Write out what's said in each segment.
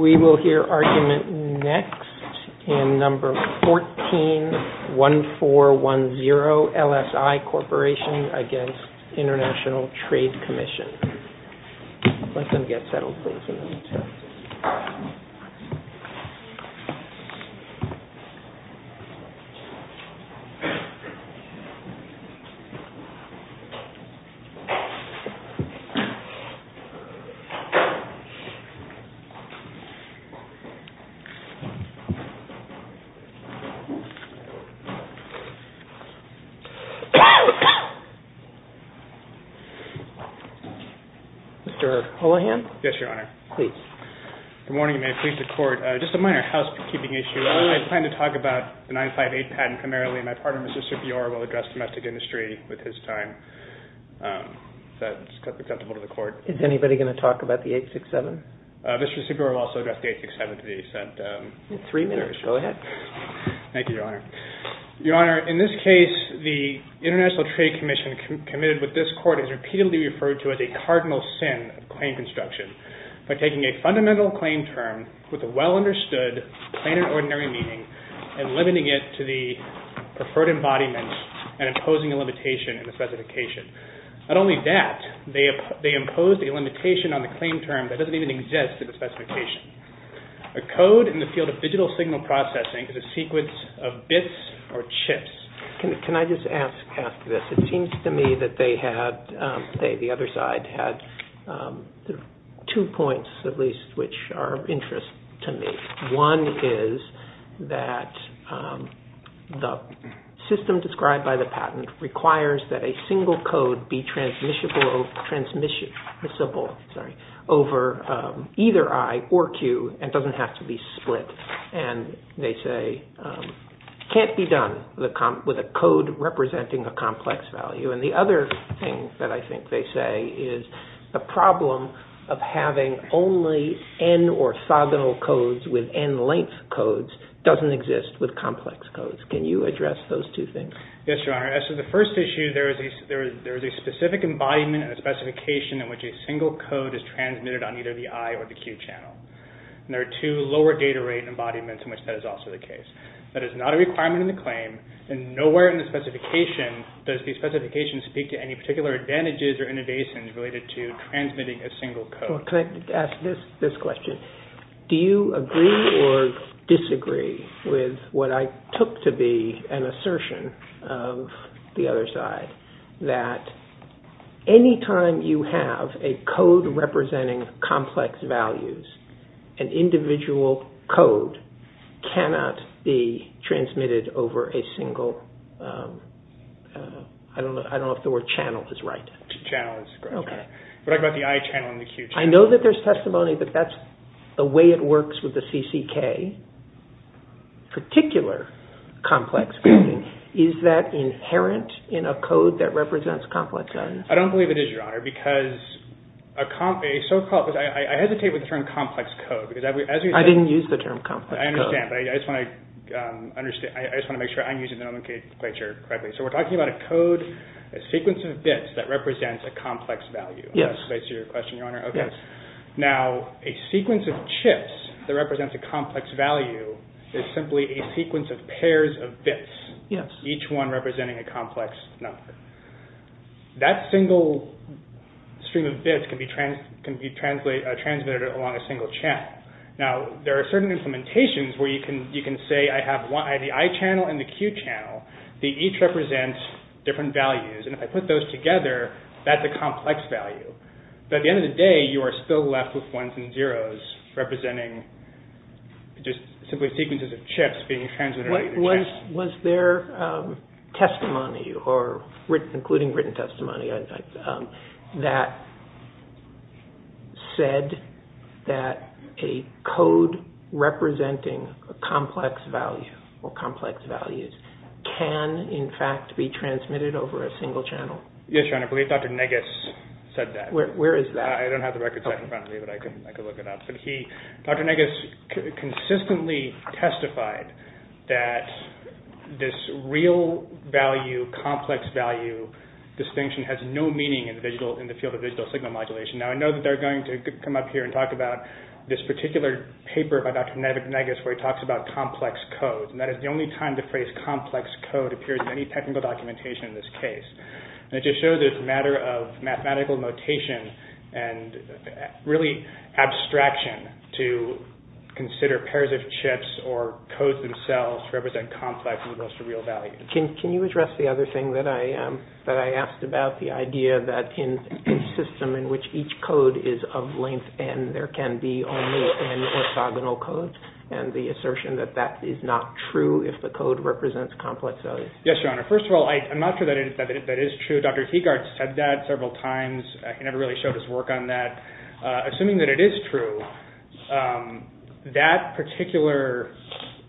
We will hear argument next in No. 14-1410, LSI Corporation v. International Trade Commission. Mr. Holohan? Yes, Your Honor. Please. Good morning, and may it please the Court. Just a minor housekeeping issue. I plan to talk about the 958 patent primarily, and my partner, Mr. Supior, will address domestic industry with his time. If that's acceptable to the Three minutes. Go ahead. Thank you, Your Honor. Your Honor, in this case, the International Trade Commission committed with this Court is repeatedly referred to as a cardinal sin of claim construction by taking a fundamental claim term with a well-understood, plain and ordinary meaning and limiting it to the preferred embodiment and imposing a limitation in the specification. Not only that, they impose a limitation on the claim term that doesn't even exist in the specification. A code in the field of digital signal processing is a sequence of bits or chips. Can I just ask this? It seems to me that they had, the other side had two points, at least, which are of interest to me. One is that the system described by the patent requires that a single code be transmissible over either I or Q and doesn't have to be split. And they say it can't be done with a code representing a complex value. And the other thing that I think they say is the problem of having only N orthogonal codes with N length codes doesn't exist with complex codes. Can you address those two things? Yes, Your Honor. As to the first issue, there is a specific embodiment and a specification in which a single code is transmitted on either the I or the Q channel. And there are two lower data rate embodiments in which that is also the case. That is not a requirement in the claim and nowhere in the specification does the specification speak to any particular advantages or innovations related to transmitting a single code. Can I ask this question? Do you agree or disagree with what I took to be an assertion of the other side that any time you have a code representing complex values, an individual code cannot be transmitted over a single, I don't know if the word channel is right. We're talking about the I channel and the Q channel. I know that there's testimony that that's the way it works with the CCK, particular complex coding. Is that inherent in a code that represents complex values? I don't believe it is, Your Honor, because I hesitate with the term complex code. I didn't use the term complex code. I understand, but I just want to make sure I'm using the nomenclature correctly. So we're I see your question, Your Honor. Now, a sequence of chips that represents a complex value is simply a sequence of pairs of bits, each one representing a complex number. That single stream of bits can be transmitted along a single channel. Now, there are certain implementations where you can say I have the I channel and the Q channel. They each represent different values. And if I put those together, that's a complex value. But at the end of the day, you are still left with ones and zeros representing just simply sequences of chips being transmitted. Was there testimony, including written testimony, that said that a code representing a complex value or complex values can, in fact, be transmitted over a single channel? Yes, Your Honor. I believe Dr. Negus said that. Where is that? I don't have the record set in front of me, but I can look it up. Dr. Negus consistently testified that this real value, complex value distinction has no meaning in the field of digital signal modulation. Now, I know that they're going to come up here and talk about this particular paper by Dr. Negus where he talks about complex codes. And that is the only time the phrase complex code appears in any technical documentation in this case. And it just shows there's a matter of mathematical notation and really abstraction to consider pairs of chips or codes themselves to represent complex as opposed to real value. Can you address the other thing that I asked about, the idea that in a system in which each code is of length n, there can be only n orthogonal codes, and the assertion that that is not true if the code represents complex values? Yes, Your Honor. First of all, I'm not sure that that is true. Dr. Teagard said that several times. He never really showed his work on that. Assuming that it is true, that particular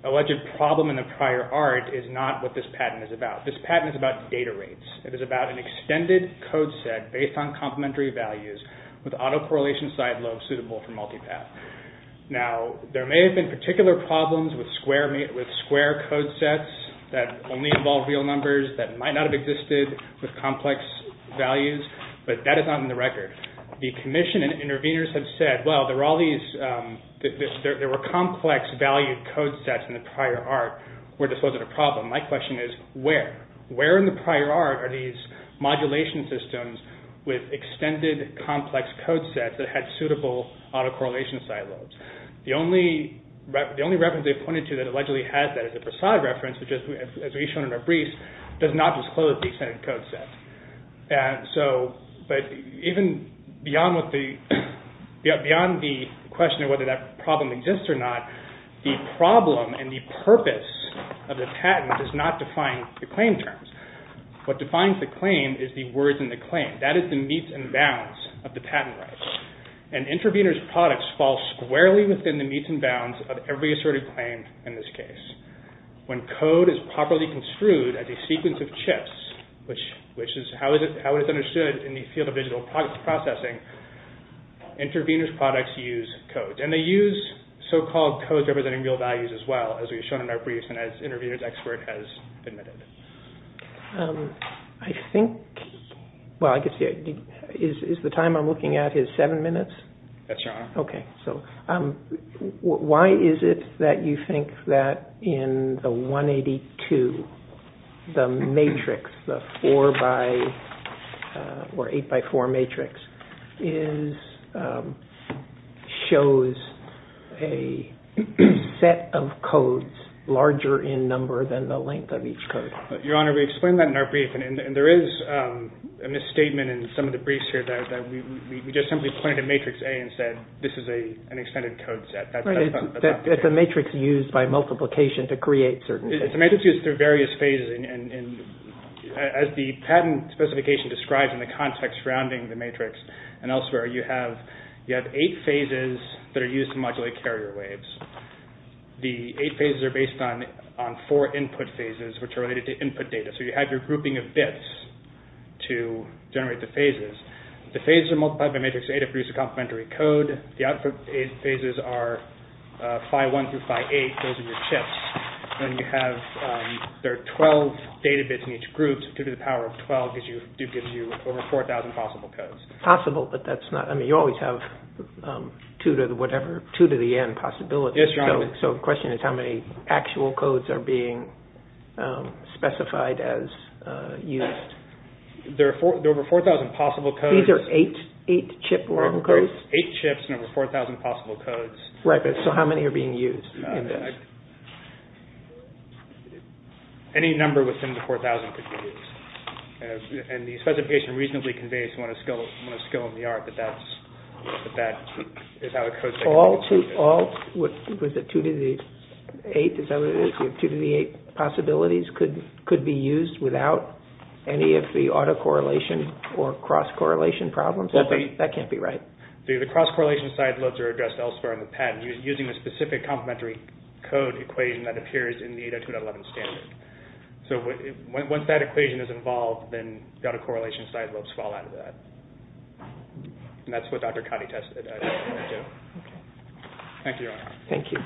alleged problem in the prior art is not what this patent is about. This patent is about data rates. It is about an extended code set based on complementary values with auto-correlation side lobes suitable for multipath. Now, there may have been particular problems with square code sets that only involve real numbers that might not have existed with complex values, but that is not in the record. The commission and interveners have said, well, there were complex value code sets in the prior art where this wasn't a problem. My question is, where? Where in the prior art are these modulation systems with extended complex code sets that had suitable auto-correlation side lobes? The only reference they pointed to that allegedly has that is the Brassad reference, which, as we've shown in our briefs, does not disclose the extended code set. But even beyond the question of whether that problem exists or not, the problem and the What defines the claim is the words in the claim. That is the meets and bounds of the patent rights. And intervener's products fall squarely within the meets and bounds of every asserted claim in this case. When code is properly construed as a sequence of chips, which is how it is understood in the field of digital processing, intervener's products use code. And they use so-called codes representing real values as well, as we've shown in our I think, well, I could see, is the time I'm looking at is seven minutes? That's your honor. Okay. So why is it that you think that in the 182, the matrix, the four by, or eight by four Your honor, we explained that in our brief. And there is a misstatement in some of the briefs here that we just simply pointed to matrix A and said, this is a, an extended code set. It's a matrix used by multiplication to create certain. It's a matrix used through various phases. And as the patent specification describes in the context surrounding the matrix and elsewhere, you have, you have eight phases that are used to modulate carrier waves. The eight phases are based on, on four input phases, which are related to input data. So you have your grouping of bits to generate the phases. The phases are multiplied by matrix A to produce a complementary code. The output phases are phi one through phi eight. Those are your chips. Then you have, there are 12 data bits in each group. Two to the power of 12 gives you, gives you over 4,000 possible codes. Possible, but that's not, I mean, you always have two to the whatever, two to the end of the possibility. So the question is how many actual codes are being specified as used? There are four, there are over 4,000 possible codes. These are eight, eight chip long codes? Eight chips and over 4,000 possible codes. Right, but so how many are being used? Any number within the 4,000 could be used. And the specification reasonably conveys, one of skill, one of skill in the art, that that's, that that is how the code is taken. So all, was it two to the eighth, is that what it is? Two to the eighth possibilities could be used without any of the autocorrelation or cross-correlation problems? That can't be right. The cross-correlation side lobes are addressed elsewhere on the pad using a specific complementary code equation that appears in the 802.11 standard. So once that equation is involved, then the autocorrelation side lobes fall out of that. And that's what Dr. Cotty tested. Thank you, Your Honor. Thank you.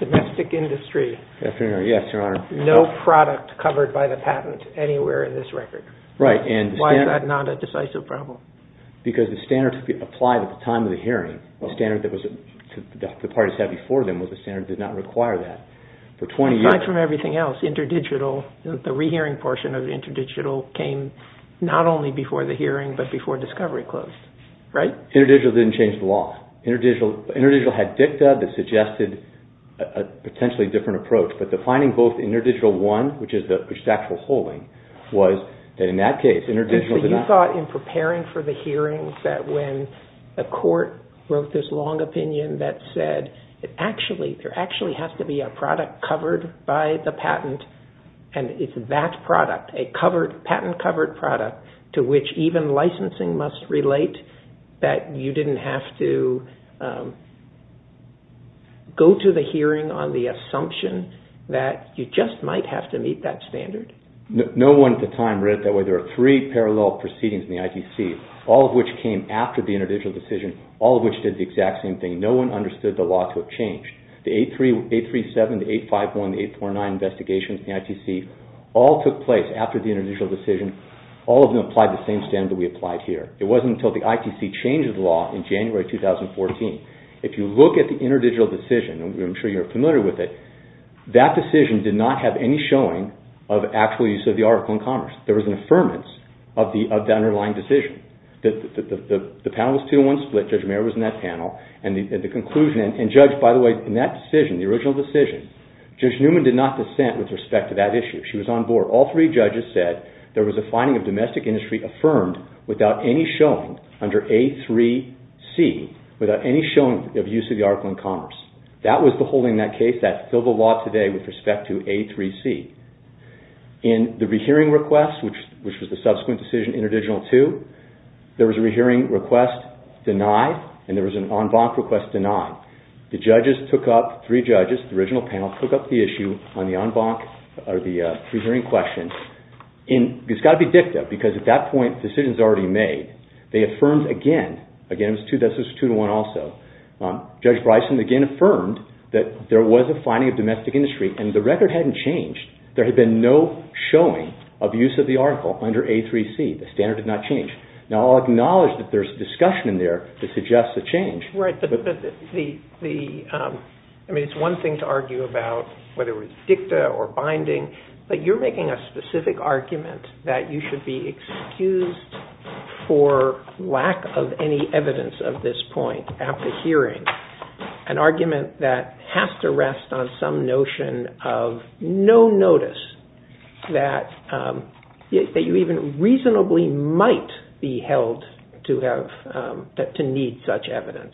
Domestic industry. Yes, Your Honor. No product covered by the patent anywhere in this record. Right, and the standard. Why is that not a decisive problem? Because the standard applied at the time of the hearing, the standard that was, the parties had before them was a standard that did not require that for 20 years. Aside from everything else, InterDigital, the rehearing portion of InterDigital came not only before the hearing, but before discovery closed, right? InterDigital didn't change the law. InterDigital had dicta that suggested a potentially different approach. But defining both InterDigital 1, which is actual holding, was that in that case, InterDigital did not. So you thought in preparing for the hearing that when a court wrote this long opinion that said there actually has to be a product covered by the patent and it's that product, a patent-covered product, to which even licensing must relate, that you didn't have to go to the hearing on the assumption that you just might have to meet that standard? No one at the time read it that way. There are three parallel proceedings in the IPC, all of which came after the InterDigital decision, all of which did the exact same thing. No one understood the law to have changed. The 837, the 851, the 849 investigations in the ITC all took place after the InterDigital decision. All of them applied the same standard that we applied here. It wasn't until the ITC changed the law in January 2014. If you look at the InterDigital decision, and I'm sure you're familiar with it, that decision did not have any showing of actual use of the article in commerce. There was an affirmance of the underlying decision. The panel was two-on-one split. Judge Mayer was in that panel. And the conclusion, and Judge, by the way, in that decision, the original decision, Judge Newman did not dissent with respect to that issue. She was on board. All three judges said there was a finding of domestic industry affirmed without any showing under A3C, without any showing of use of the article in commerce. That was the holding in that case that filled the law today with respect to A3C. In the rehearing request, which was the subsequent decision, InterDigital 2, there was a rehearing request denied and there was an en banc request denied. The judges took up, three judges, the original panel, took up the issue on the en banc, or the rehearing question. It's got to be dicta because at that point decisions were already made. They affirmed again. Again, this was two-to-one also. Judge Bryson again affirmed that there was a finding of domestic industry, and the record hadn't changed. There had been no showing of use of the article under A3C. The standard had not changed. Now, I'll acknowledge that there's discussion in there that suggests a change. Right. I mean, it's one thing to argue about whether it was dicta or binding, but you're making a specific argument that you should be excused for lack of any evidence of this point at the hearing, an argument that has to rest on some notion of no notice that you even reasonably might be held to need such evidence.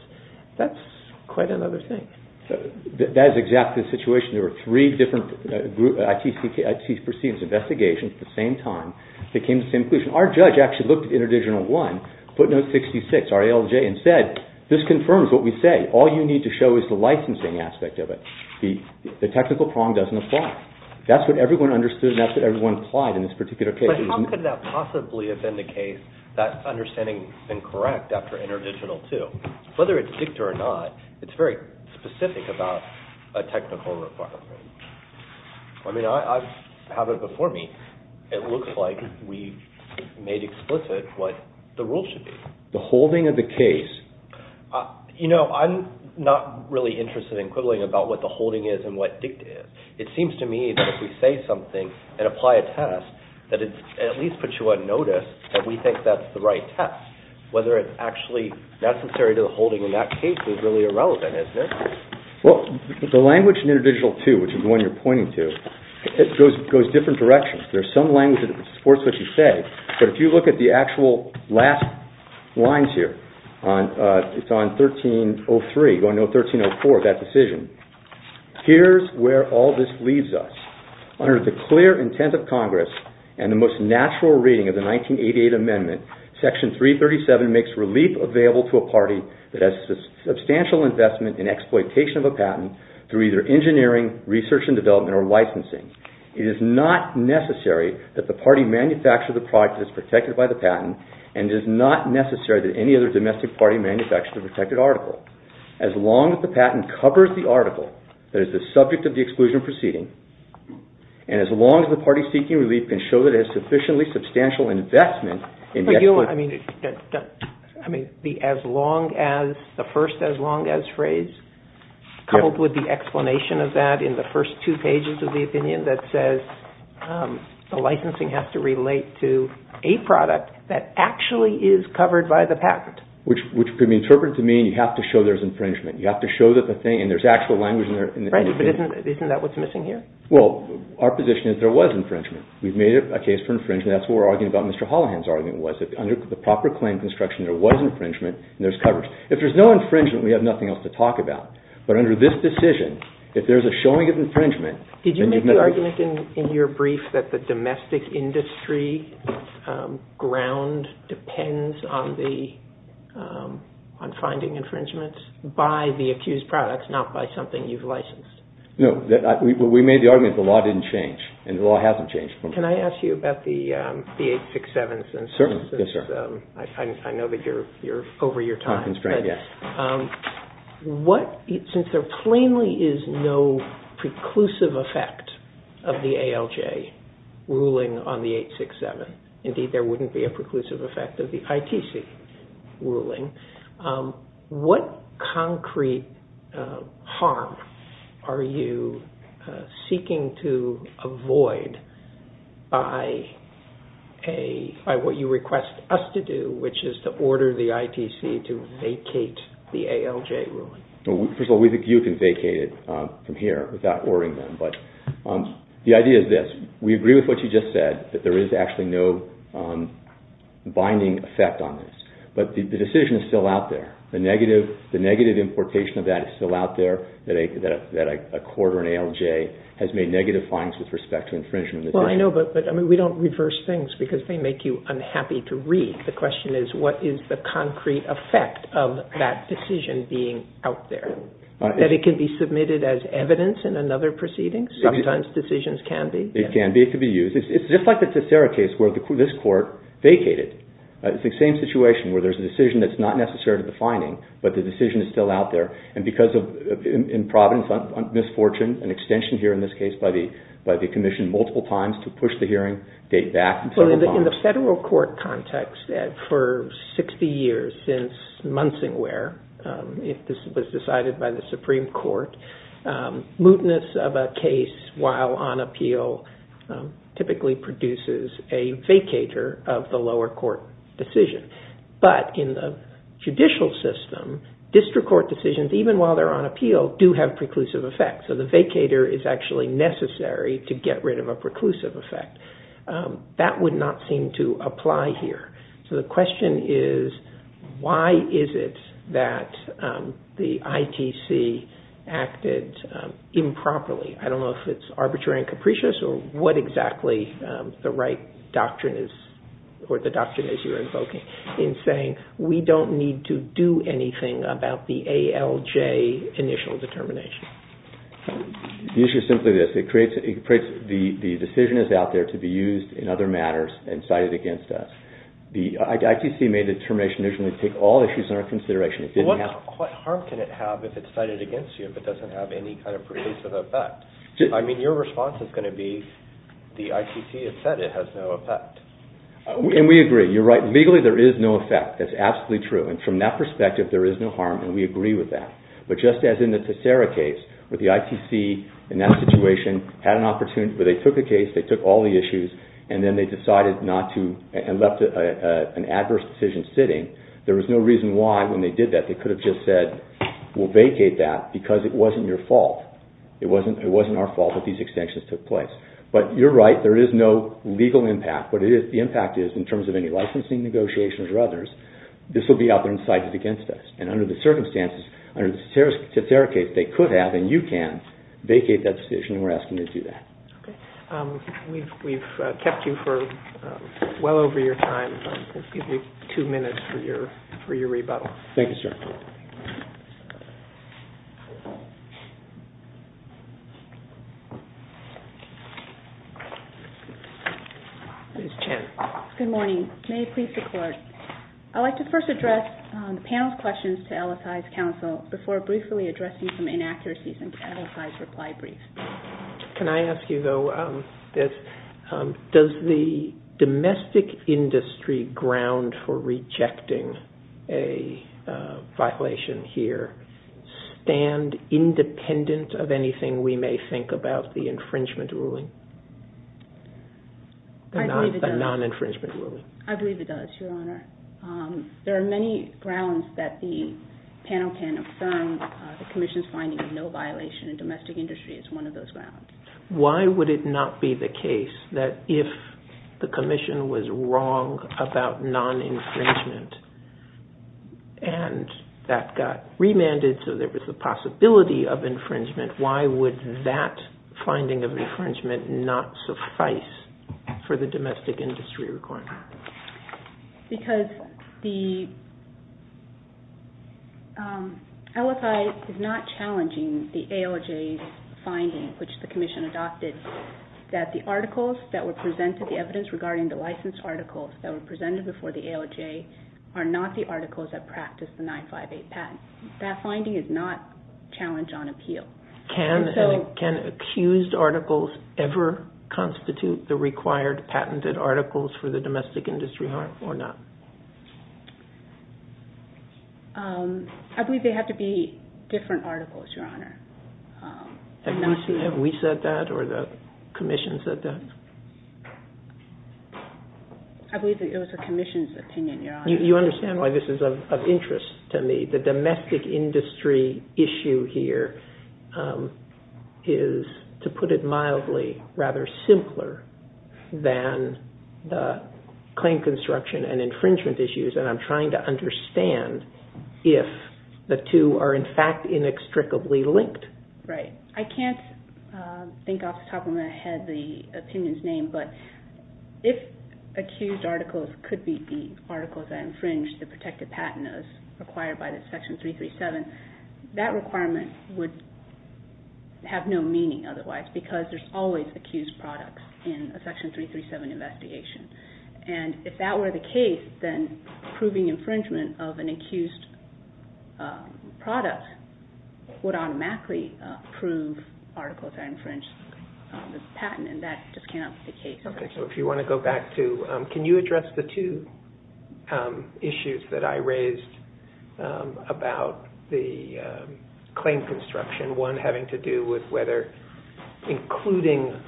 That's quite another thing. That is exactly the situation. There were three different ITC proceedings investigations at the same time that came to the same conclusion. Our judge actually looked at InterDigital 1, footnote 66, RALJ, and said, this confirms what we say. All you need to show is the licensing aspect of it. The technical prong doesn't apply. That's what everyone understood, and that's what everyone applied in this particular case. But how could that possibly have been the case, that understanding incorrect after InterDigital 2? Whether it's dicta or not, it's very specific about a technical requirement. I mean, I have it before me. It looks like we made explicit what the rules should be. The holding of the case. You know, I'm not really interested in quibbling about what the holding is and what dicta is. It seems to me that if we say something and apply a test, that it at least puts you on notice that we think that's the right test. Whether it's actually necessary to the holding in that case is really irrelevant, isn't it? Well, the language in InterDigital 2, which is the one you're pointing to, goes different directions. There's some language that supports what you say, but if you look at the actual last lines here, it's on 1303, going to 1304, that decision. Here's where all this leaves us. Under the clear intent of Congress and the most natural reading of the 1988 amendment, Section 337 makes relief available to a party that has substantial investment in exploitation of a patent through either engineering, research and development, or licensing. It is not necessary that the party manufacture the product that is protected by the patent, and it is not necessary that any other domestic party manufacture the protected article. As long as the patent covers the article that is the subject of the exclusion proceeding, and as long as the party seeking relief can show that it has sufficiently substantial investment in exploitation. I mean, the as long as, the first as long as phrase, coupled with the explanation of that in the first two pages of the opinion that says the licensing has to relate to a product that actually is covered by the patent. Which could be interpreted to mean you have to show there's infringement. You have to show that the thing, and there's actual language in there. Right, but isn't that what's missing here? Well, our position is there was infringement. We've made a case for infringement. That's what we're arguing about. Mr. Holohan's argument was that under the proper claim construction, there was infringement and there's coverage. If there's no infringement, we have nothing else to talk about. But under this decision, if there's a showing of infringement, Did you make the argument in your brief that the domestic industry ground depends on finding infringement by the accused products, not by something you've licensed? No, we made the argument the law didn't change, and the law hasn't changed. Can I ask you about the 867? Certainly, yes sir. I know that you're over your time. Since there plainly is no preclusive effect of the ALJ ruling on the 867, indeed there wouldn't be a preclusive effect of the ITC ruling, what concrete harm are you seeking to avoid by what you request us to do, which is to order the ITC to vacate the ALJ ruling? First of all, we think you can vacate it from here without ordering them, but the idea is this. We agree with what you just said, that there is actually no binding effect on this. But the decision is still out there. The negative importation of that is still out there, that a court or an ALJ has made negative findings with respect to infringement. Well, I know, but we don't reverse things because they make you unhappy to read the question is what is the concrete effect of that decision being out there? That it can be submitted as evidence in another proceeding? Sometimes decisions can be. It can be, it can be used. It's just like the Tessera case where this court vacated. It's the same situation where there's a decision that's not necessarily the finding, but the decision is still out there. And because of, in Providence, misfortune, an extension here in this case by the Commission multiple times to push the hearing date back several times. In the federal court context, for 60 years since Munsingware, if this was decided by the Supreme Court, mootness of a case while on appeal typically produces a vacator of the lower court decision. But in the judicial system, district court decisions, even while they're on appeal, do have preclusive effects. So the vacator is actually necessary to get rid of a preclusive effect. That would not seem to apply here. So the question is, why is it that the ITC acted improperly? I don't know if it's arbitrary and capricious or what exactly the right doctrine is, or the doctrine as you're invoking, in saying we don't need to do anything about the ALJ initial determination. The issue is simply this. The decision is out there to be used in other matters and cited against us. The ITC made the determination to take all issues into consideration. What harm can it have if it's cited against you if it doesn't have any kind of preclusive effect? I mean, your response is going to be the ITC has said it has no effect. And we agree. You're right. Legally there is no effect. That's absolutely true. And from that perspective, there is no harm, and we agree with that. But just as in the Tessera case, where the ITC in that situation had an opportunity, where they took a case, they took all the issues, and then they decided not to and left an adverse decision sitting, there was no reason why when they did that they could have just said, we'll vacate that because it wasn't your fault. It wasn't our fault that these extensions took place. But you're right. There is no legal impact. What the impact is, in terms of any licensing negotiations or others, this will be out there and cited against us. And under the circumstances, under the Tessera case, if they could have, and you can, vacate that decision, and we're asking you to do that. Okay. We've kept you for well over your time. We'll give you two minutes for your rebuttal. Thank you, sir. Ms. Chen. Good morning. May it please the Court. I'd like to first address the panel's questions to LSI's counsel before briefly addressing some inaccuracies in LSI's reply brief. Can I ask you, though, does the domestic industry ground for rejecting a violation here stand independent of anything we may think about the infringement ruling? I believe it does. The non-infringement ruling. I believe it does, Your Honor. There are many grounds that the panel can affirm the Commission's finding of no violation in domestic industry as one of those grounds. Why would it not be the case that if the Commission was wrong about non-infringement and that got remanded so there was a possibility of infringement, why would that finding of infringement not suffice for the domestic industry requirement? Because the LSI is not challenging the ALJ's finding, which the Commission adopted, that the articles that were presented, the evidence regarding the licensed articles that were presented before the ALJ, are not the articles that practice the 958 patent. That finding is not challenged on appeal. Can accused articles ever constitute the required patented articles for the domestic industry or not? I believe they have to be different articles, Your Honor. Have we said that or the Commission said that? I believe it was the Commission's opinion, Your Honor. You understand why this is of interest to me. The domestic industry issue here is, to put it mildly, rather simpler than the claim construction and infringement issues, and I'm trying to understand if the two are in fact inextricably linked. Right. I can't think off the top of my head the opinion's name, but if accused articles could be the articles that infringe the protected patent as required by Section 337, that requirement would have no meaning otherwise because there's always accused products in a Section 337 investigation. If that were the case, then proving infringement of an accused product would automatically prove articles are infringed on the patent, and that just cannot be the case. If you want to go back to... Can you address the two issues that I raised about the claim construction, and one having to do with whether including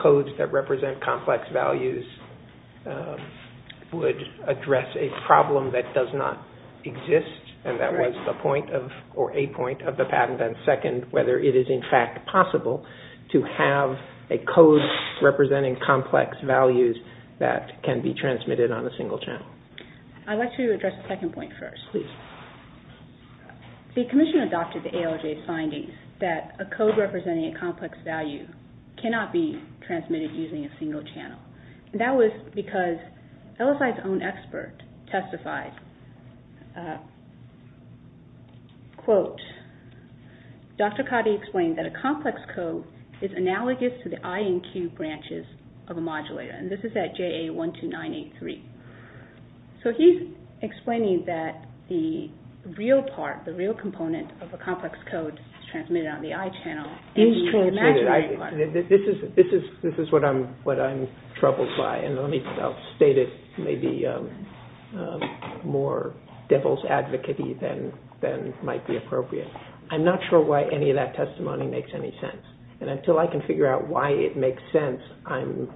codes that represent complex values would address a problem that does not exist, and that was a point of the patent, and second, whether it is in fact possible to have a code representing complex values that can be transmitted on a single channel. I'd like to address the second point first. Please. The Commission adopted the ALJ's findings that a code representing a complex value cannot be transmitted using a single channel, and that was because LSI's own expert testified, quote, Dr. Cotty explained that a complex code is analogous to the I and Q branches of a modulator, and this is at JA12983. So he's explaining that the real part, the real component of a complex code is transmitted on the I channel. This is what I'm troubled by, and I'll state it maybe more devil's advocate-y than might be appropriate. I'm not sure why any of that testimony makes any sense, and until I can figure out why it makes sense, I'm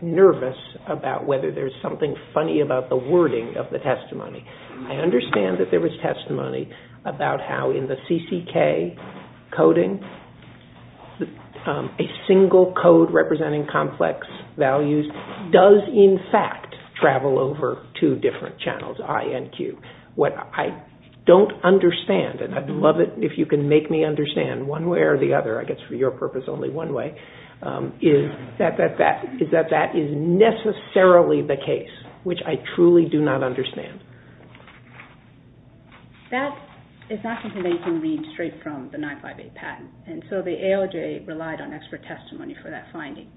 nervous about whether there's something funny about the wording of the testimony. I understand that there was testimony about how in the CCK coding, a single code representing complex values does in fact travel over two different channels, I and Q. What I don't understand, and I'd love it if you can make me understand one way or the other, I guess for your purpose only one way, is that that is necessarily the case, which I truly do not understand. That is not something that you can read straight from the 958 patent, and so the ALJ relied on expert testimony for that finding.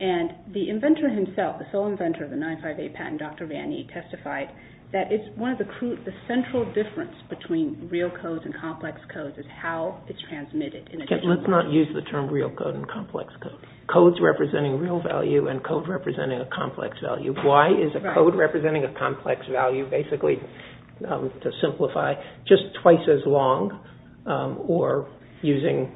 And the inventor himself, the sole inventor of the 958 patent, Dr. Vanni, testified that it's one of the crucial, the central difference between real codes and complex codes is how it's transmitted. Let's not use the term real code and complex code. Codes representing real value and code representing a complex value. Why is a code representing a complex value? Basically, to simplify, just twice as long or using,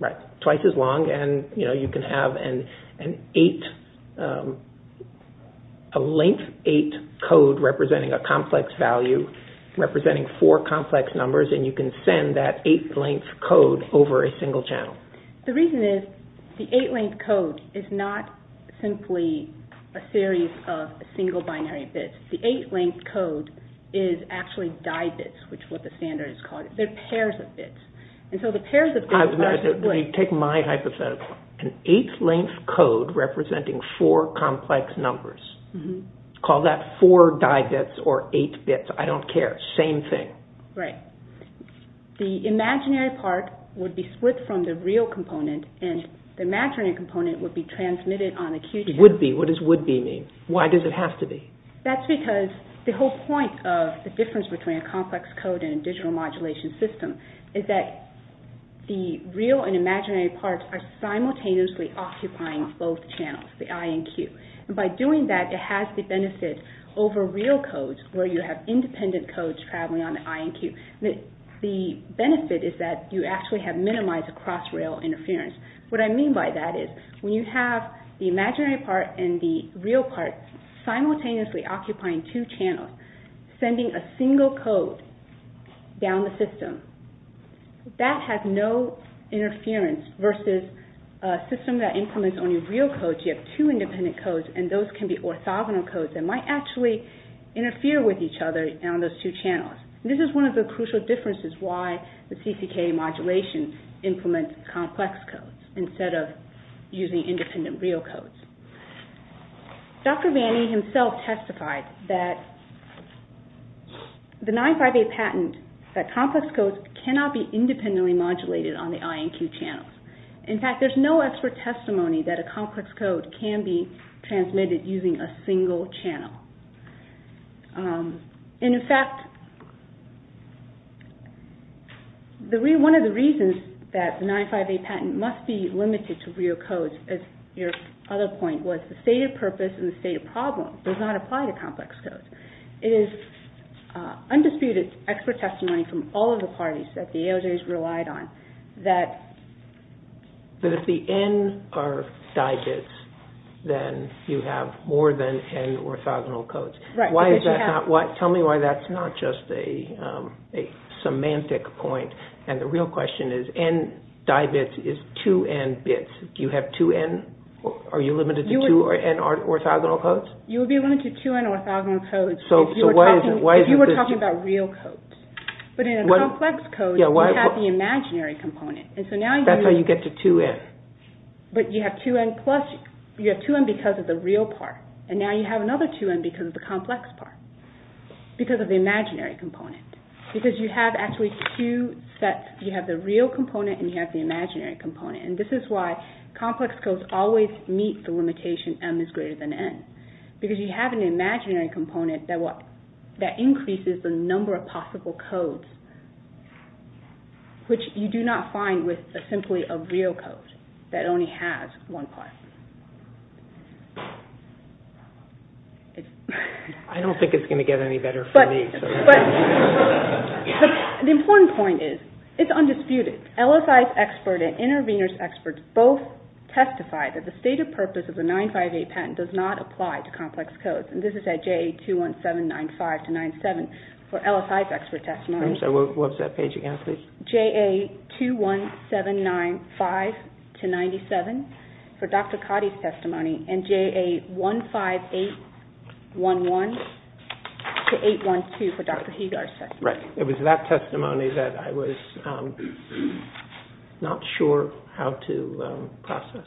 right, twice as long, and you can have an eight, a length eight code representing a complex value, representing four complex numbers, and you can send that eight length code over a single channel. The reason is the eight length code is not simply a series of single binary bits. The eight length code is actually die bits, which is what the standard is called. They're pairs of bits. And so the pairs of bits are... Take my hypothesis. An eight length code representing four complex numbers. Call that four die bits or eight bits. I don't care. Same thing. Right. The imaginary part would be split from the real component, and the imaginary component would be transmitted on a Q channel. Would be. What does would be mean? Why does it have to be? That's because the whole point of the difference between a complex code and a digital modulation system is that the real and imaginary parts are simultaneously occupying both channels, the I and Q. And by doing that, it has the benefit over real codes, where you have independent codes traveling on the I and Q. The benefit is that you actually have minimized cross-rail interference. What I mean by that is when you have the imaginary part and the real part simultaneously occupying two channels, sending a single code down the system, that has no interference versus a system that implements only real codes. You have two independent codes, and those can be orthogonal codes that might actually interfere with each other on those two channels. This is one of the crucial differences why the CCK modulation implements complex codes instead of using independent real codes. Dr. Vanni himself testified that the 95A patent, that complex codes cannot be independently modulated on the I and Q channels. In fact, there's no expert testimony that a complex code can be transmitted using a single channel. And in fact, one of the reasons that the 95A patent must be limited to real codes, as your other point was, the stated purpose and the stated problem does not apply to complex codes. It is undisputed expert testimony from all of the parties that the AOJ has relied on that if the N are digits, then you have more than N orthogonal codes. Tell me why that's not just a semantic point. And the real question is, N di-bits is 2N bits. Do you have 2N? Are you limited to 2N orthogonal codes? You would be limited to 2N orthogonal codes if you were talking about real codes. But in a complex code, you have the imaginary component. That's how you get to 2N. But you have 2N plus, you have 2N because of the real part. And now you have another 2N because of the complex part. Because of the imaginary component. Because you have actually two sets. You have the real component and you have the imaginary component. And this is why complex codes always meet the limitation M is greater than N. Because you have an imaginary component that increases the number of possible codes, which you do not find with simply a real code. That only has one part. I don't think it's going to get any better for me. But the important point is, it's undisputed. LSI's expert and intervenors' experts both testified that the stated purpose of the 958 patent does not apply to complex codes. And this is at JA21795-97 for LSI's expert testimony. What was that page again, please? It was JA21795-97 for Dr. Cotty's testimony and JA15811-812 for Dr. Hegar's testimony. Right. It was that testimony that I was not sure how to process.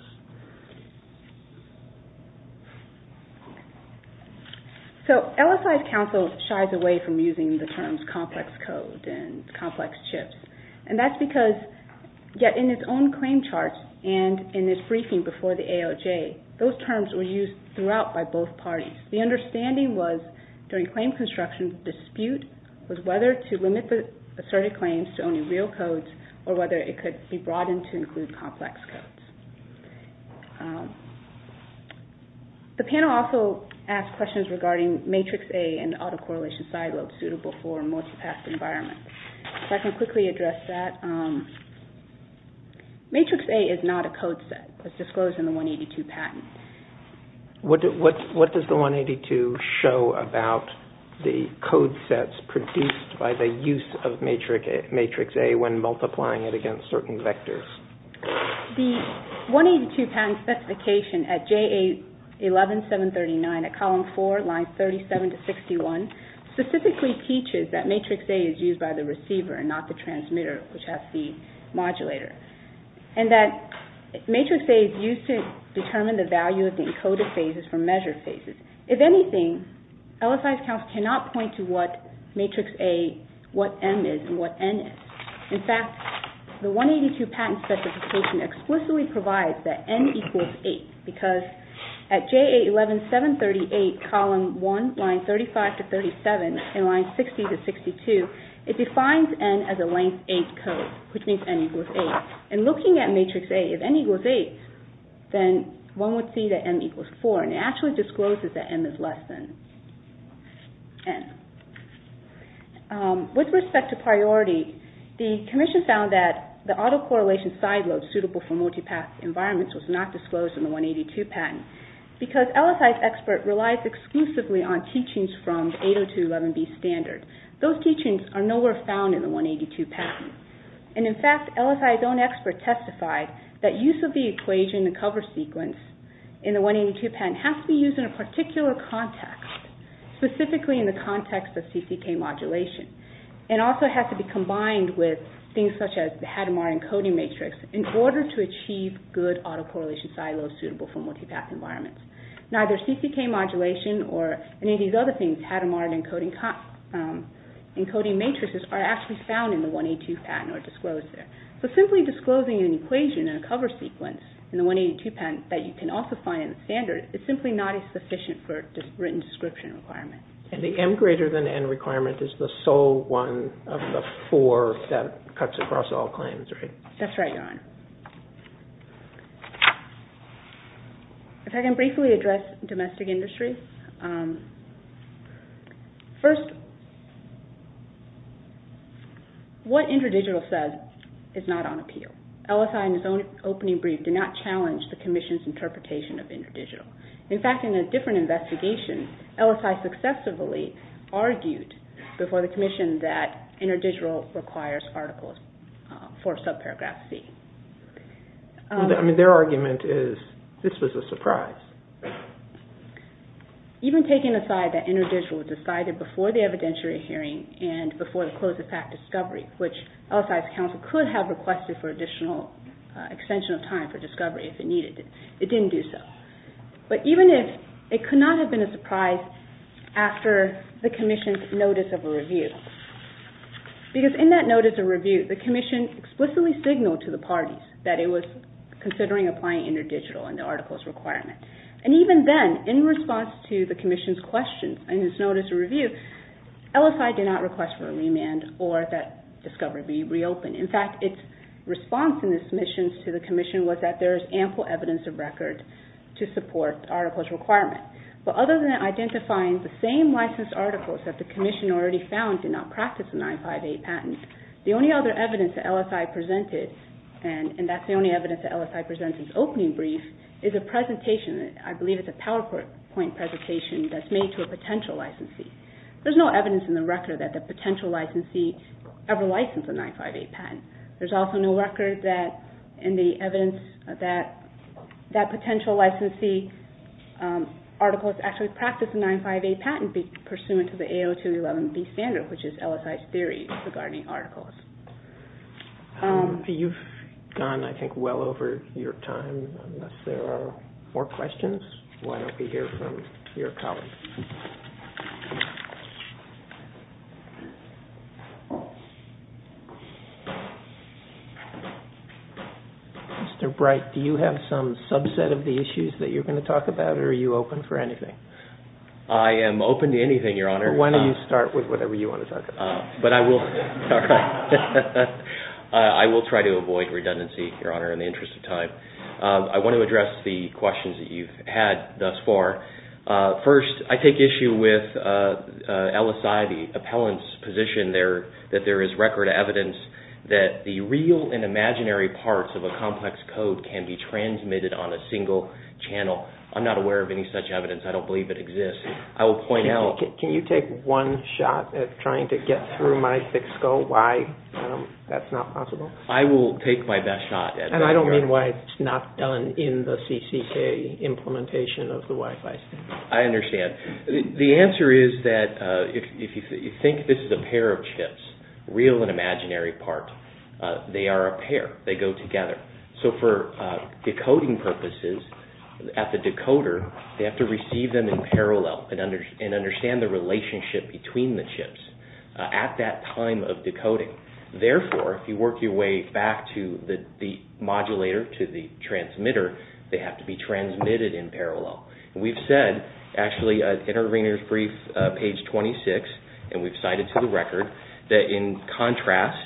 So LSI's counsel shies away from using the terms complex code and complex chips. And that's because, yet in its own claim charts and in its briefing before the AOJ, those terms were used throughout by both parties. The understanding was, during claim construction, the dispute was whether to limit the asserted claims to only real codes or whether it could be broadened to include complex codes. The panel also asked questions regarding Matrix A and autocorrelation side lobes suitable for multi-path environments. If I can quickly address that. Matrix A is not a code set as disclosed in the 182 patent. What does the 182 show about the code sets produced by the use of Matrix A when multiplying it against certain vectors? The 182 patent specification at JA11739 at column 4, lines 37 to 61, specifically teaches that Matrix A is used by the receiver and not the transmitter, which has the modulator. And that Matrix A is used to determine the value of the encoded phases for measured phases. If anything, LSI's counsel cannot point to what Matrix A, what M is, and what N is. In fact, the 182 patent specification explicitly provides that N equals 8 because at JA11738, column 1, lines 35 to 37, and lines 60 to 62, it defines N as a length 8 code, which means N equals 8. And looking at Matrix A, if N equals 8, then one would see that M equals 4. And it actually discloses that M is less than N. With respect to priority, the commission found that the autocorrelation side lobes suitable for multi-path environments was not disclosed in the 182 patent because LSI's expert relies exclusively on teachings from 802.11b standard. Those teachings are nowhere found in the 182 patent. And in fact, LSI's own expert testified that use of the equation, the cover sequence, in the 182 patent has to be used in a particular context, specifically in the context of CCK modulation, and also has to be combined with things such as the Hadamard encoding matrix in order to achieve good autocorrelation side lobes suitable for multi-path environments. Neither CCK modulation or any of these other things, Hadamard encoding matrices, are actually found in the 182 patent or disclosed there. So simply disclosing an equation and a cover sequence in the 182 patent that you can also find in the standard, it's simply not as sufficient for a written description requirement. And the M greater than N requirement is the sole one of the four that cuts across all claims, right? That's right, Your Honor. If I can briefly address domestic industry. First, what InterDigital says is not on appeal. LSI in its own opening brief did not challenge the Commission's interpretation of InterDigital. In fact, in a different investigation, LSI successively argued before the Commission that InterDigital requires articles for subparagraph C. I mean, their argument is this was a surprise. Even taking aside that InterDigital decided before the evidentiary hearing and before the close of that discovery, which LSI's counsel could have requested for additional extension of time for discovery if it needed, it didn't do so. But even if it could not have been a surprise after the Commission's notice of a review, because in that notice of review, the Commission explicitly signaled to the parties that it was considering applying InterDigital in the article's requirement. And even then, in response to the Commission's questions in its notice of review, LSI did not request for a remand or that discovery be reopened. In fact, its response in its submissions to the Commission was that there is ample evidence of record to support the article's requirement. But other than identifying the same licensed articles that the Commission already found did not practice the 958 patent, the only other evidence that LSI presented, and that's the only evidence that LSI presents in its opening brief, is a presentation. I believe it's a PowerPoint presentation that's made to a potential licensee. There's no evidence in the record that the potential licensee ever licensed a 958 patent. There's also no record in the evidence that that potential licensee article has actually practiced a 958 patent pursuant to the AO211B standard, which is LSI's theory regarding articles. You've gone, I think, well over your time. Unless there are more questions, why don't we hear from your colleagues? Mr. Bright, do you have some subset of the issues that you're going to talk about or are you open for anything? I am open to anything, Your Honor. Why don't you start with whatever you want to talk about. But I will try to avoid redundancy, Your Honor, in the interest of time. I want to address the questions that you've had thus far. First, I take issue with LSI, the appellant's position that there is record evidence that the real and imaginary parts of a complex code can be transmitted on a single channel. I'm not aware of any such evidence. I don't believe it exists. I will point out... Can you take one shot at trying to get through my thick skull why that's not possible? I will take my best shot. And I don't mean why it's not done in the CCCA implementation of the Wi-Fi system. I understand. The answer is that if you think this is a pair of chips, real and imaginary part, they are a pair. They go together. So for decoding purposes, at the decoder, they have to receive them in parallel and understand the relationship between the chips at that time of decoding. Therefore, if you work your way back to the modulator, to the transmitter, they have to be transmitted in parallel. We've said, actually, in our intervener's brief, page 26, and we've cited to the record, that in contrast,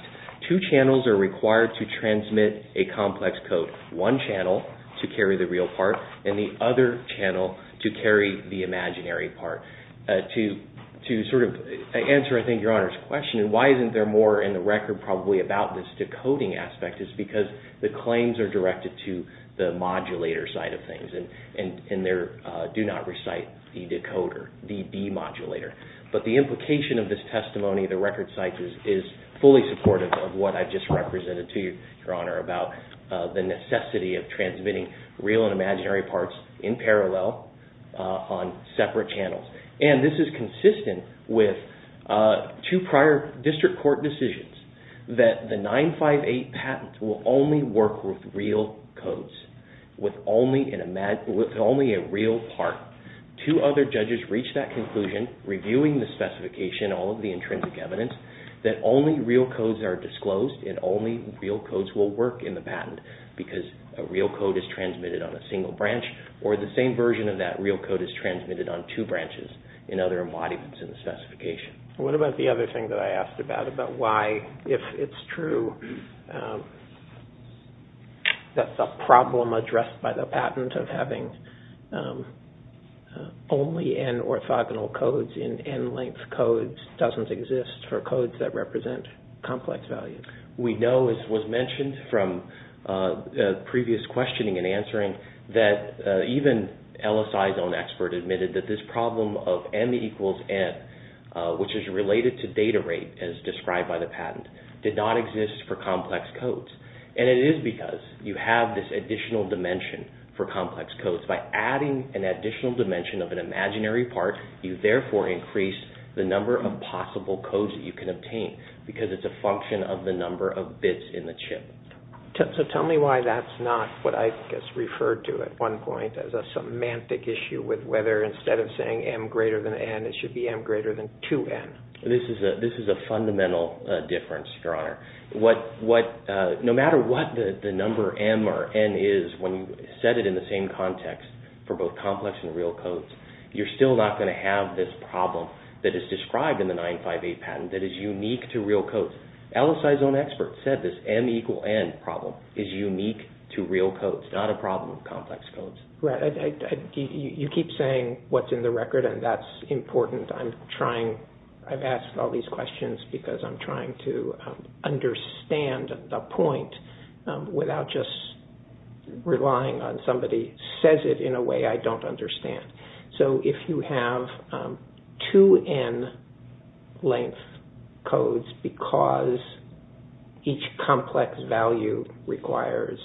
two channels are required to transmit a complex code. One channel to carry the real part and the other channel to carry the imaginary part. To sort of answer, I think, Your Honor's question, why isn't there more in the record probably about this decoding aspect is because the claims are directed to the modulator side of things and they do not recite the decoder, the demodulator. But the implication of this testimony, the record site is fully supportive of what I've just represented to you, Your Honor, about the necessity of transmitting real and imaginary parts in parallel on separate channels. And this is consistent with two prior district court decisions that the 958 patent will only work with real codes, with only a real part. Two other judges reached that conclusion, reviewing the specification, all of the intrinsic evidence, that only real codes are disclosed and only real codes will work in the patent because a real code is transmitted on a single branch or the same version of that real code is transmitted on two branches in other embodiments in the specification. What about the other thing that I asked about, about why, if it's true, that the problem addressed by the patent of having only n orthogonal codes in n length codes doesn't exist for codes that represent complex value? We know, as was mentioned from previous questioning and answering, that even LSI's own expert admitted that this problem of m equals n, which is related to data rate as described by the patent, did not exist for complex codes. And it is because you have this additional dimension for complex codes. By adding an additional dimension of an imaginary part, you therefore increase the number of possible codes that you can obtain, because it's a function of the number of bits in the chip. So tell me why that's not what I just referred to at one point as a semantic issue with whether, instead of saying m greater than n, it should be m greater than 2n. This is a fundamental difference, Your Honor. No matter what the number m or n is, when you set it in the same context for both complex and real codes, you're still not going to have this problem that is described in the 958 patent that is unique to real codes. LSI's own expert said this m equals n problem is unique to real codes, not a problem with complex codes. You keep saying what's in the record, and that's important. I've asked all these questions because I'm trying to understand the point without just relying on somebody who says it in a way I don't understand. So if you have 2n length codes because each complex value requires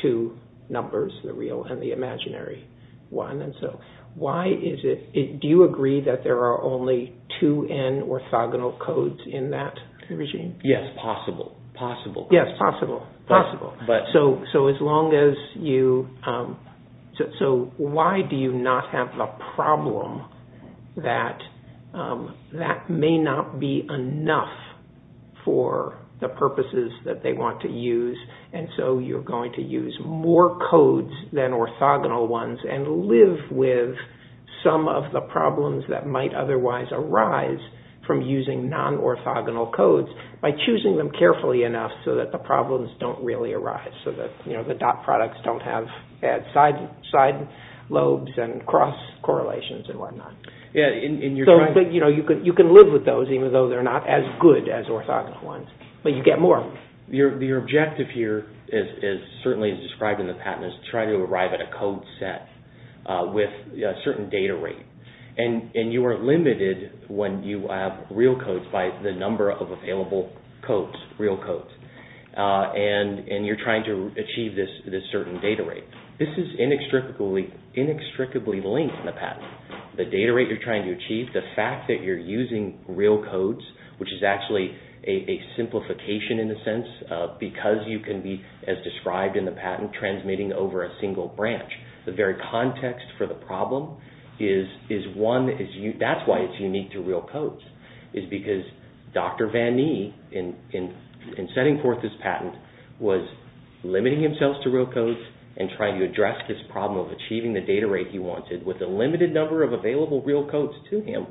two numbers, the real and the imaginary one, do you agree that there are only 2n orthogonal codes in that regime? Yes, possible. Yes, possible. So why do you not have the problem that that may not be enough for the purposes that they want to use, and so you're going to use more codes than orthogonal ones and live with some of the problems that might otherwise arise from using non-orthogonal codes by choosing them carefully enough so that the problems don't really arise, so that the dot products don't have side lobes and cross correlations and whatnot. But you can live with those even though they're not as good as orthogonal ones, but you get more. Your objective here, certainly as described in the patent, is to try to arrive at a code set with a certain data rate, and you are limited when you have real codes by the number of available codes, real codes, and you're trying to achieve this certain data rate. This is inextricably linked in the patent. The data rate you're trying to achieve, the fact that you're using real codes, which is actually a simplification in a sense because you can be, as described in the patent, transmitting over a single branch. The very context for the problem is one, that's why it's unique to real codes is because Dr. Van Nee, in setting forth this patent, was limiting himself to real codes and trying to address this problem of achieving the data rate he wanted with a limited number of available real codes to him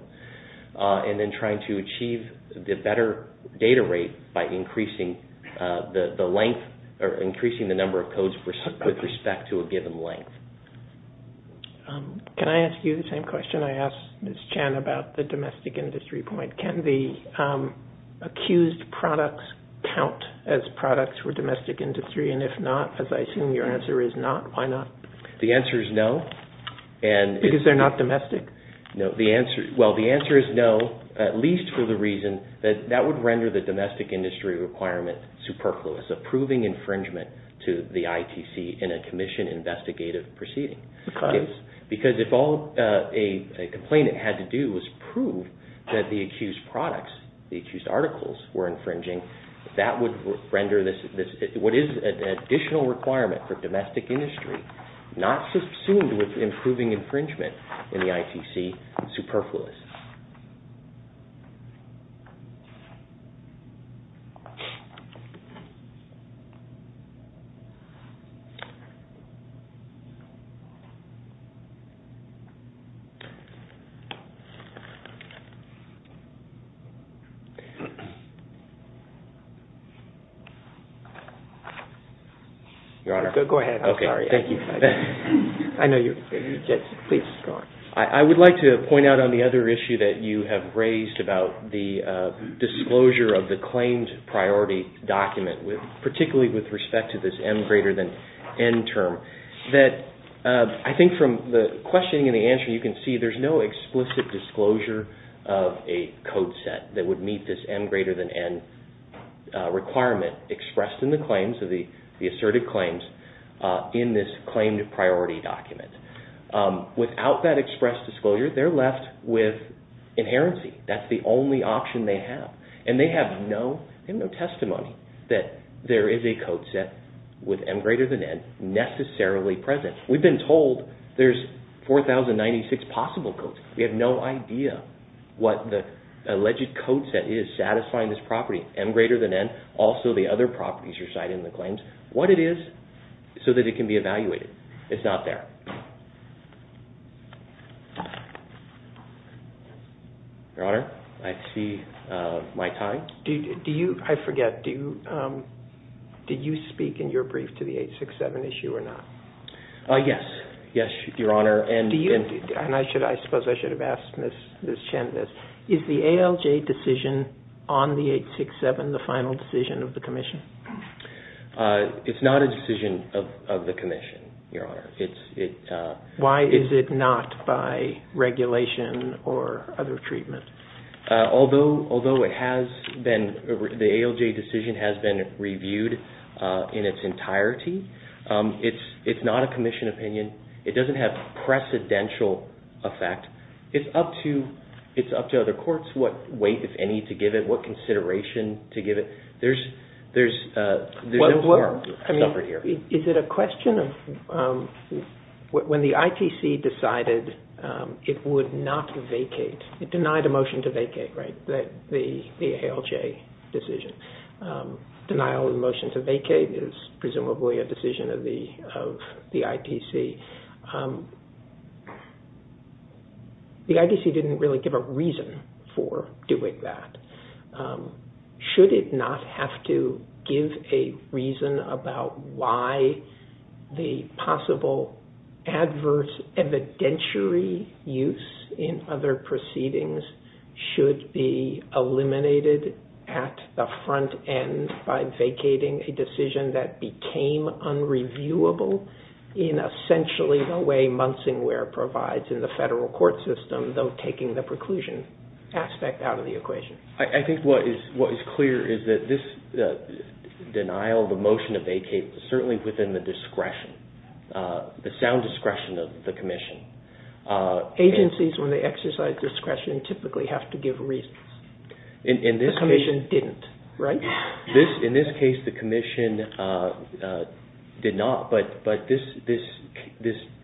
and then trying to achieve the better data rate by increasing the number of codes with respect to a given length. Can I ask you the same question I asked Ms. Chan about the domestic industry point. Can the accused products count as products for domestic industry, and if not, as I assume your answer is not, why not? The answer is no. Because they're not domestic? Well, the answer is no, at least for the reason that that would render the domestic industry requirement superfluous, approving infringement to the ITC in a commission investigative proceeding. Because if all a complainant had to do was prove that the accused products, the accused articles were infringing, that would render what is an additional requirement for domestic industry, not subsumed with improving infringement in the ITC, superfluous. Your Honor. Go ahead. I'm sorry. Thank you. Please, go on. I would like to point out on the other issue that you have raised about the disclosure of the claims priority document, that the claims priority document is a document that is subject to the I think from the questioning and the answer, you can see there's no explicit disclosure of a code set that would meet this M greater than N requirement expressed in the claims, the asserted claims, in this claimed priority document. Without that expressed disclosure, they're left with inherency. That's the only option they have. And they have no testimony that there is a code set with M greater than N necessarily present. We've been told there's 4,096 possible codes. We have no idea what the alleged code set is satisfying this property, M greater than N, also the other properties you're citing in the claims, what it is so that it can be evaluated. It's not there. Your Honor, I see Mike High. Do you, I forget, do you speak in your brief to the 867 issue or not? Yes. Yes, Your Honor. And I suppose I should have asked Ms. Chen this. Is the ALJ decision on the 867 the final decision of the commission? It's not a decision of the commission, Your Honor. Why is it not by regulation or other treatment? Although it has been, the ALJ decision has been reviewed in its entirety, it's not a commission opinion. It doesn't have precedential effect. It's up to other courts what weight, if any, to give it, what consideration to give it. There's no harm suffered here. Is it a question of when the ITC decided it would not vacate, it denied a motion to vacate, right, the ALJ decision. Denial of the motion to vacate is presumably a decision of the ITC. The ITC didn't really give a reason for doing that. Should it not have to give a reason about why the possible adverse evidentiary use in other proceedings should be eliminated at the front end by vacating a decision that became unreviewable in essentially the way Munsingware provides in the federal court system, though taking the preclusion aspect out of the equation. I think what is clear is that this denial of the motion to vacate is certainly within the discretion, the sound discretion of the commission. Agencies, when they exercise discretion, typically have to give reasons. The commission didn't, right? In this case, the commission did not, but this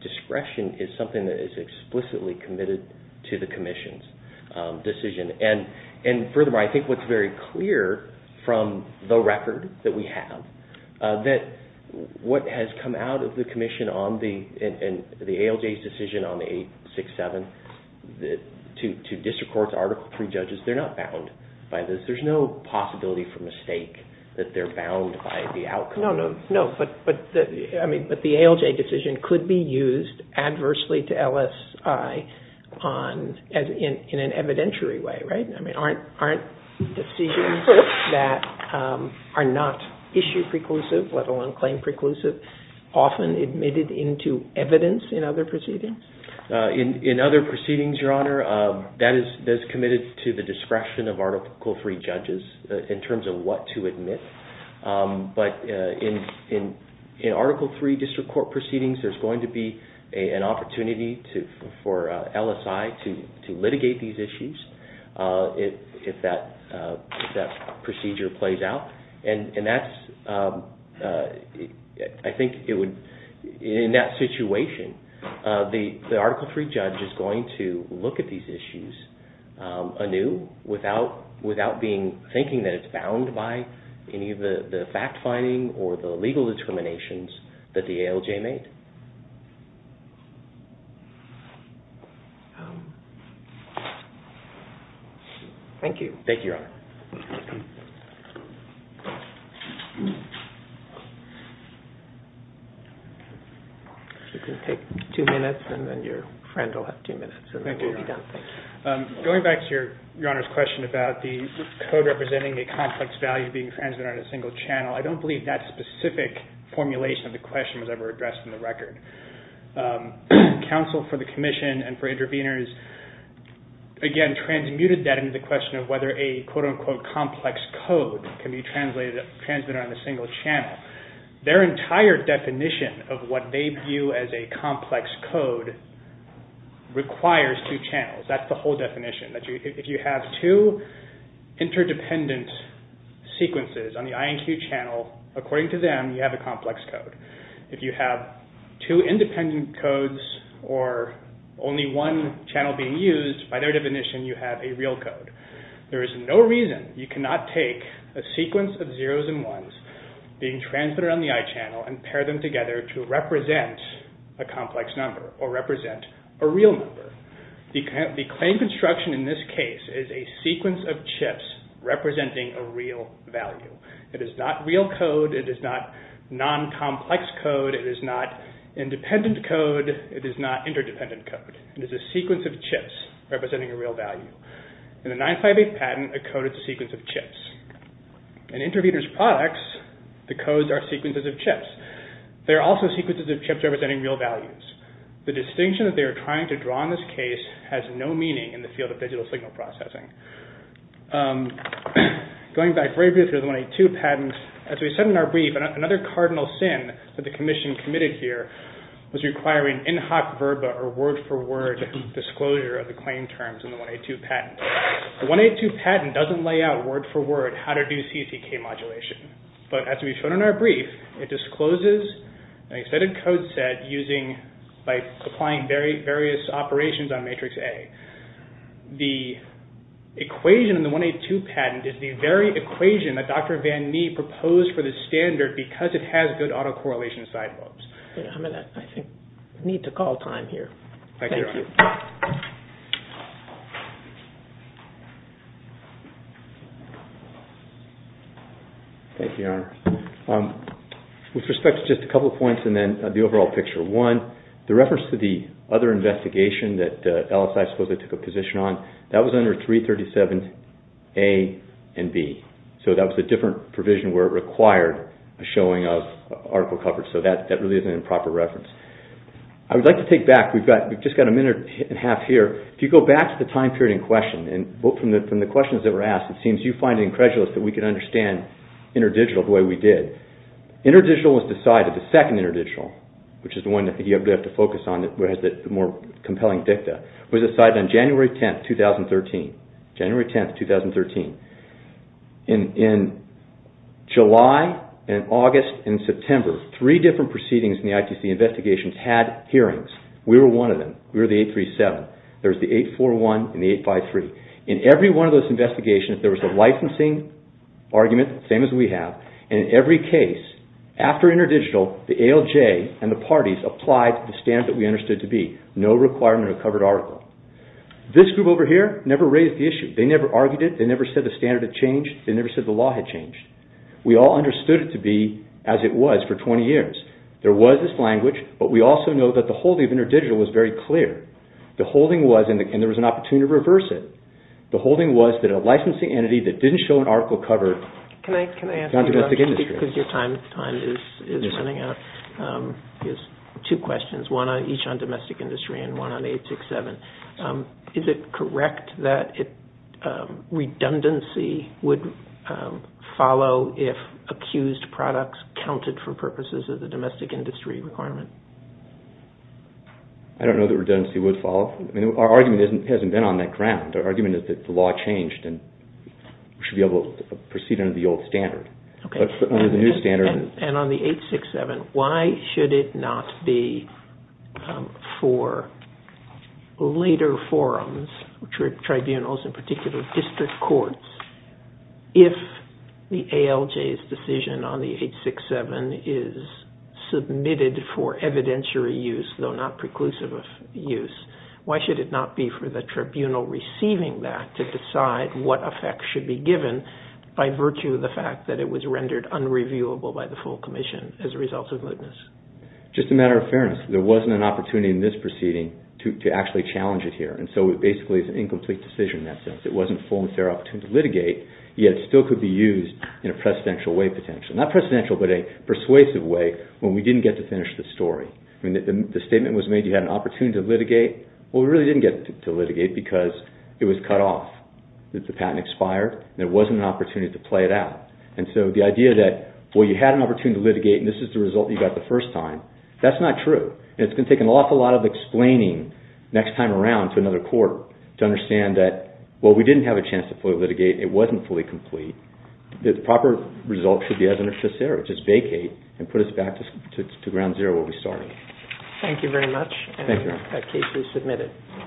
discretion is something that is explicitly committed to the commission's decision. And furthermore, I think what's very clear from the record that we have that what has come out of the commission and the ALJ's decision on 867 to district courts, article 3 judges, they're not bound by this. There's no possibility for mistake that they're bound by the outcome. No, but the ALJ decision could be used adversely to LSI in an evidentiary way, right? Aren't decisions that are not issue preclusive, let alone claim preclusive, often admitted into evidence in other proceedings? In other proceedings, Your Honor, that is committed to the discretion of article 3 judges in terms of what to admit. But in article 3 district court proceedings, there's going to be an opportunity for LSI to litigate these issues if that procedure plays out. And that's, I think it would, in that situation, the article 3 judge is going to look at these issues anew without thinking that it's bound by any of the fact-finding or the legal determinations that the ALJ made. Thank you. Thank you, Your Honor. You can take two minutes, and then your friend will have two minutes, and then we'll be done. Thank you. Going back to Your Honor's question about the code representing a complex value being transmitted on a single channel, I don't believe that specific formulation of the question was ever addressed in the record. Counsel for the Commission and for interveners, again, transmuted that into the question of whether a quote-unquote complex code can be transmitted on a single channel. Their entire definition of what they view as a complex code requires two channels. That's the whole definition. If you have two interdependent sequences on the INQ channel, according to them, you have a complex code. If you have two independent codes or only one channel being used, by their definition, you have a real code. There is no reason you cannot take a sequence of zeros and ones being transmitted on the I channel and pair them together to represent a complex number or represent a real number. The claim construction in this case is a sequence of chips representing a real value. It is not real code. It is not non-complex code. It is not independent code. It is not interdependent code. It is a sequence of chips representing a real value. In the 958 patent, a code is a sequence of chips. In Interviewer's Products, the codes are sequences of chips. They are also sequences of chips representing real values. The distinction that they are trying to draw in this case has no meaning in the field of digital signal processing. Going back very briefly to the 182 patent, as we said in our brief, another cardinal sin that the commission committed here was requiring in-hoc verba or word-for-word disclosure of the claim terms in the 182 patent. The 182 patent doesn't lay out word-for-word how to do CCK modulation, but as we've shown in our brief, it discloses an extended code set by applying various operations on matrix A. The equation in the 182 patent is the very equation that Dr. Van Nee proposed for the standard because it has good autocorrelation side lobes. I think we need to call time here. Thank you, Your Honor. Thank you, Your Honor. With respect to just a couple of points and then the overall picture, one, the reference to the other investigation that LSI supposedly took a position on, that was under 337A and B. So that was a different provision where it required a showing of article coverage. So that really is an improper reference. I would like to take back. We've just got a minute and a half here. If you go back to the time period in question and look from the questions that were asked, it seems you find it incredulous that we can understand InterDigital the way we did. InterDigital was decided, the second InterDigital, which is the one that you have to focus on, whereas the more compelling DICTA, was decided on January 10, 2013. January 10, 2013. In July and August and September, three different proceedings in the ITC investigations had hearings. We were one of them. We were the 837. There was the 841 and the 853. In every one of those investigations, there was a licensing argument, the same as we have, and in every case, after InterDigital, the ALJ and the parties applied the standards that we understood to be. No requirement of covered article. This group over here never raised the issue. They never argued it. They never said the standard had changed. They never said the law had changed. We all understood it to be as it was for 20 years. There was this language, but we also know that the holding of InterDigital was very clear. The holding was, and there was an opportunity to reverse it, the holding was that a licensing entity that didn't show an article cover on domestic industry. Can I ask you about, because your time is running out, is two questions, one on each on domestic industry and one on 867. Is it correct that redundancy would follow if accused products counted for purposes of the domestic industry requirement? I don't know that redundancy would follow. Our argument hasn't been on that ground. Our argument is that the law changed and we should be able to proceed under the old standard. But under the new standard... And on the 867, why should it not be for later forums, tribunals in particular, district courts, if the ALJ's decision on the 867 is submitted for evidentiary use, though not preclusive of use, why should it not be for the tribunal receiving that to decide what effect should be given by virtue of the fact that it was rendered unreviewable by the full commission as a result of lewdness? Just a matter of fairness, there wasn't an opportunity in this proceeding to actually challenge it here, and so it basically is an incomplete decision in that sense. It wasn't full and fair opportunity to litigate, yet it still could be used in a precedential way, potentially. Not precedential, but a persuasive way when we didn't get to finish the story. The statement was made you had an opportunity to litigate. Well, we really didn't get to litigate because it was cut off. The patent expired and there wasn't an opportunity to play it out. And so the idea that, well, you had an opportunity to litigate and this is the result you got the first time, that's not true. And it's going to take an awful lot of explaining next time around to another court to understand that, well, we didn't have a chance to fully litigate. It wasn't fully complete. The proper result should be as it is just there. Just vacate and put us back to ground zero where we started. Thank you very much. Thank you. That case is submitted.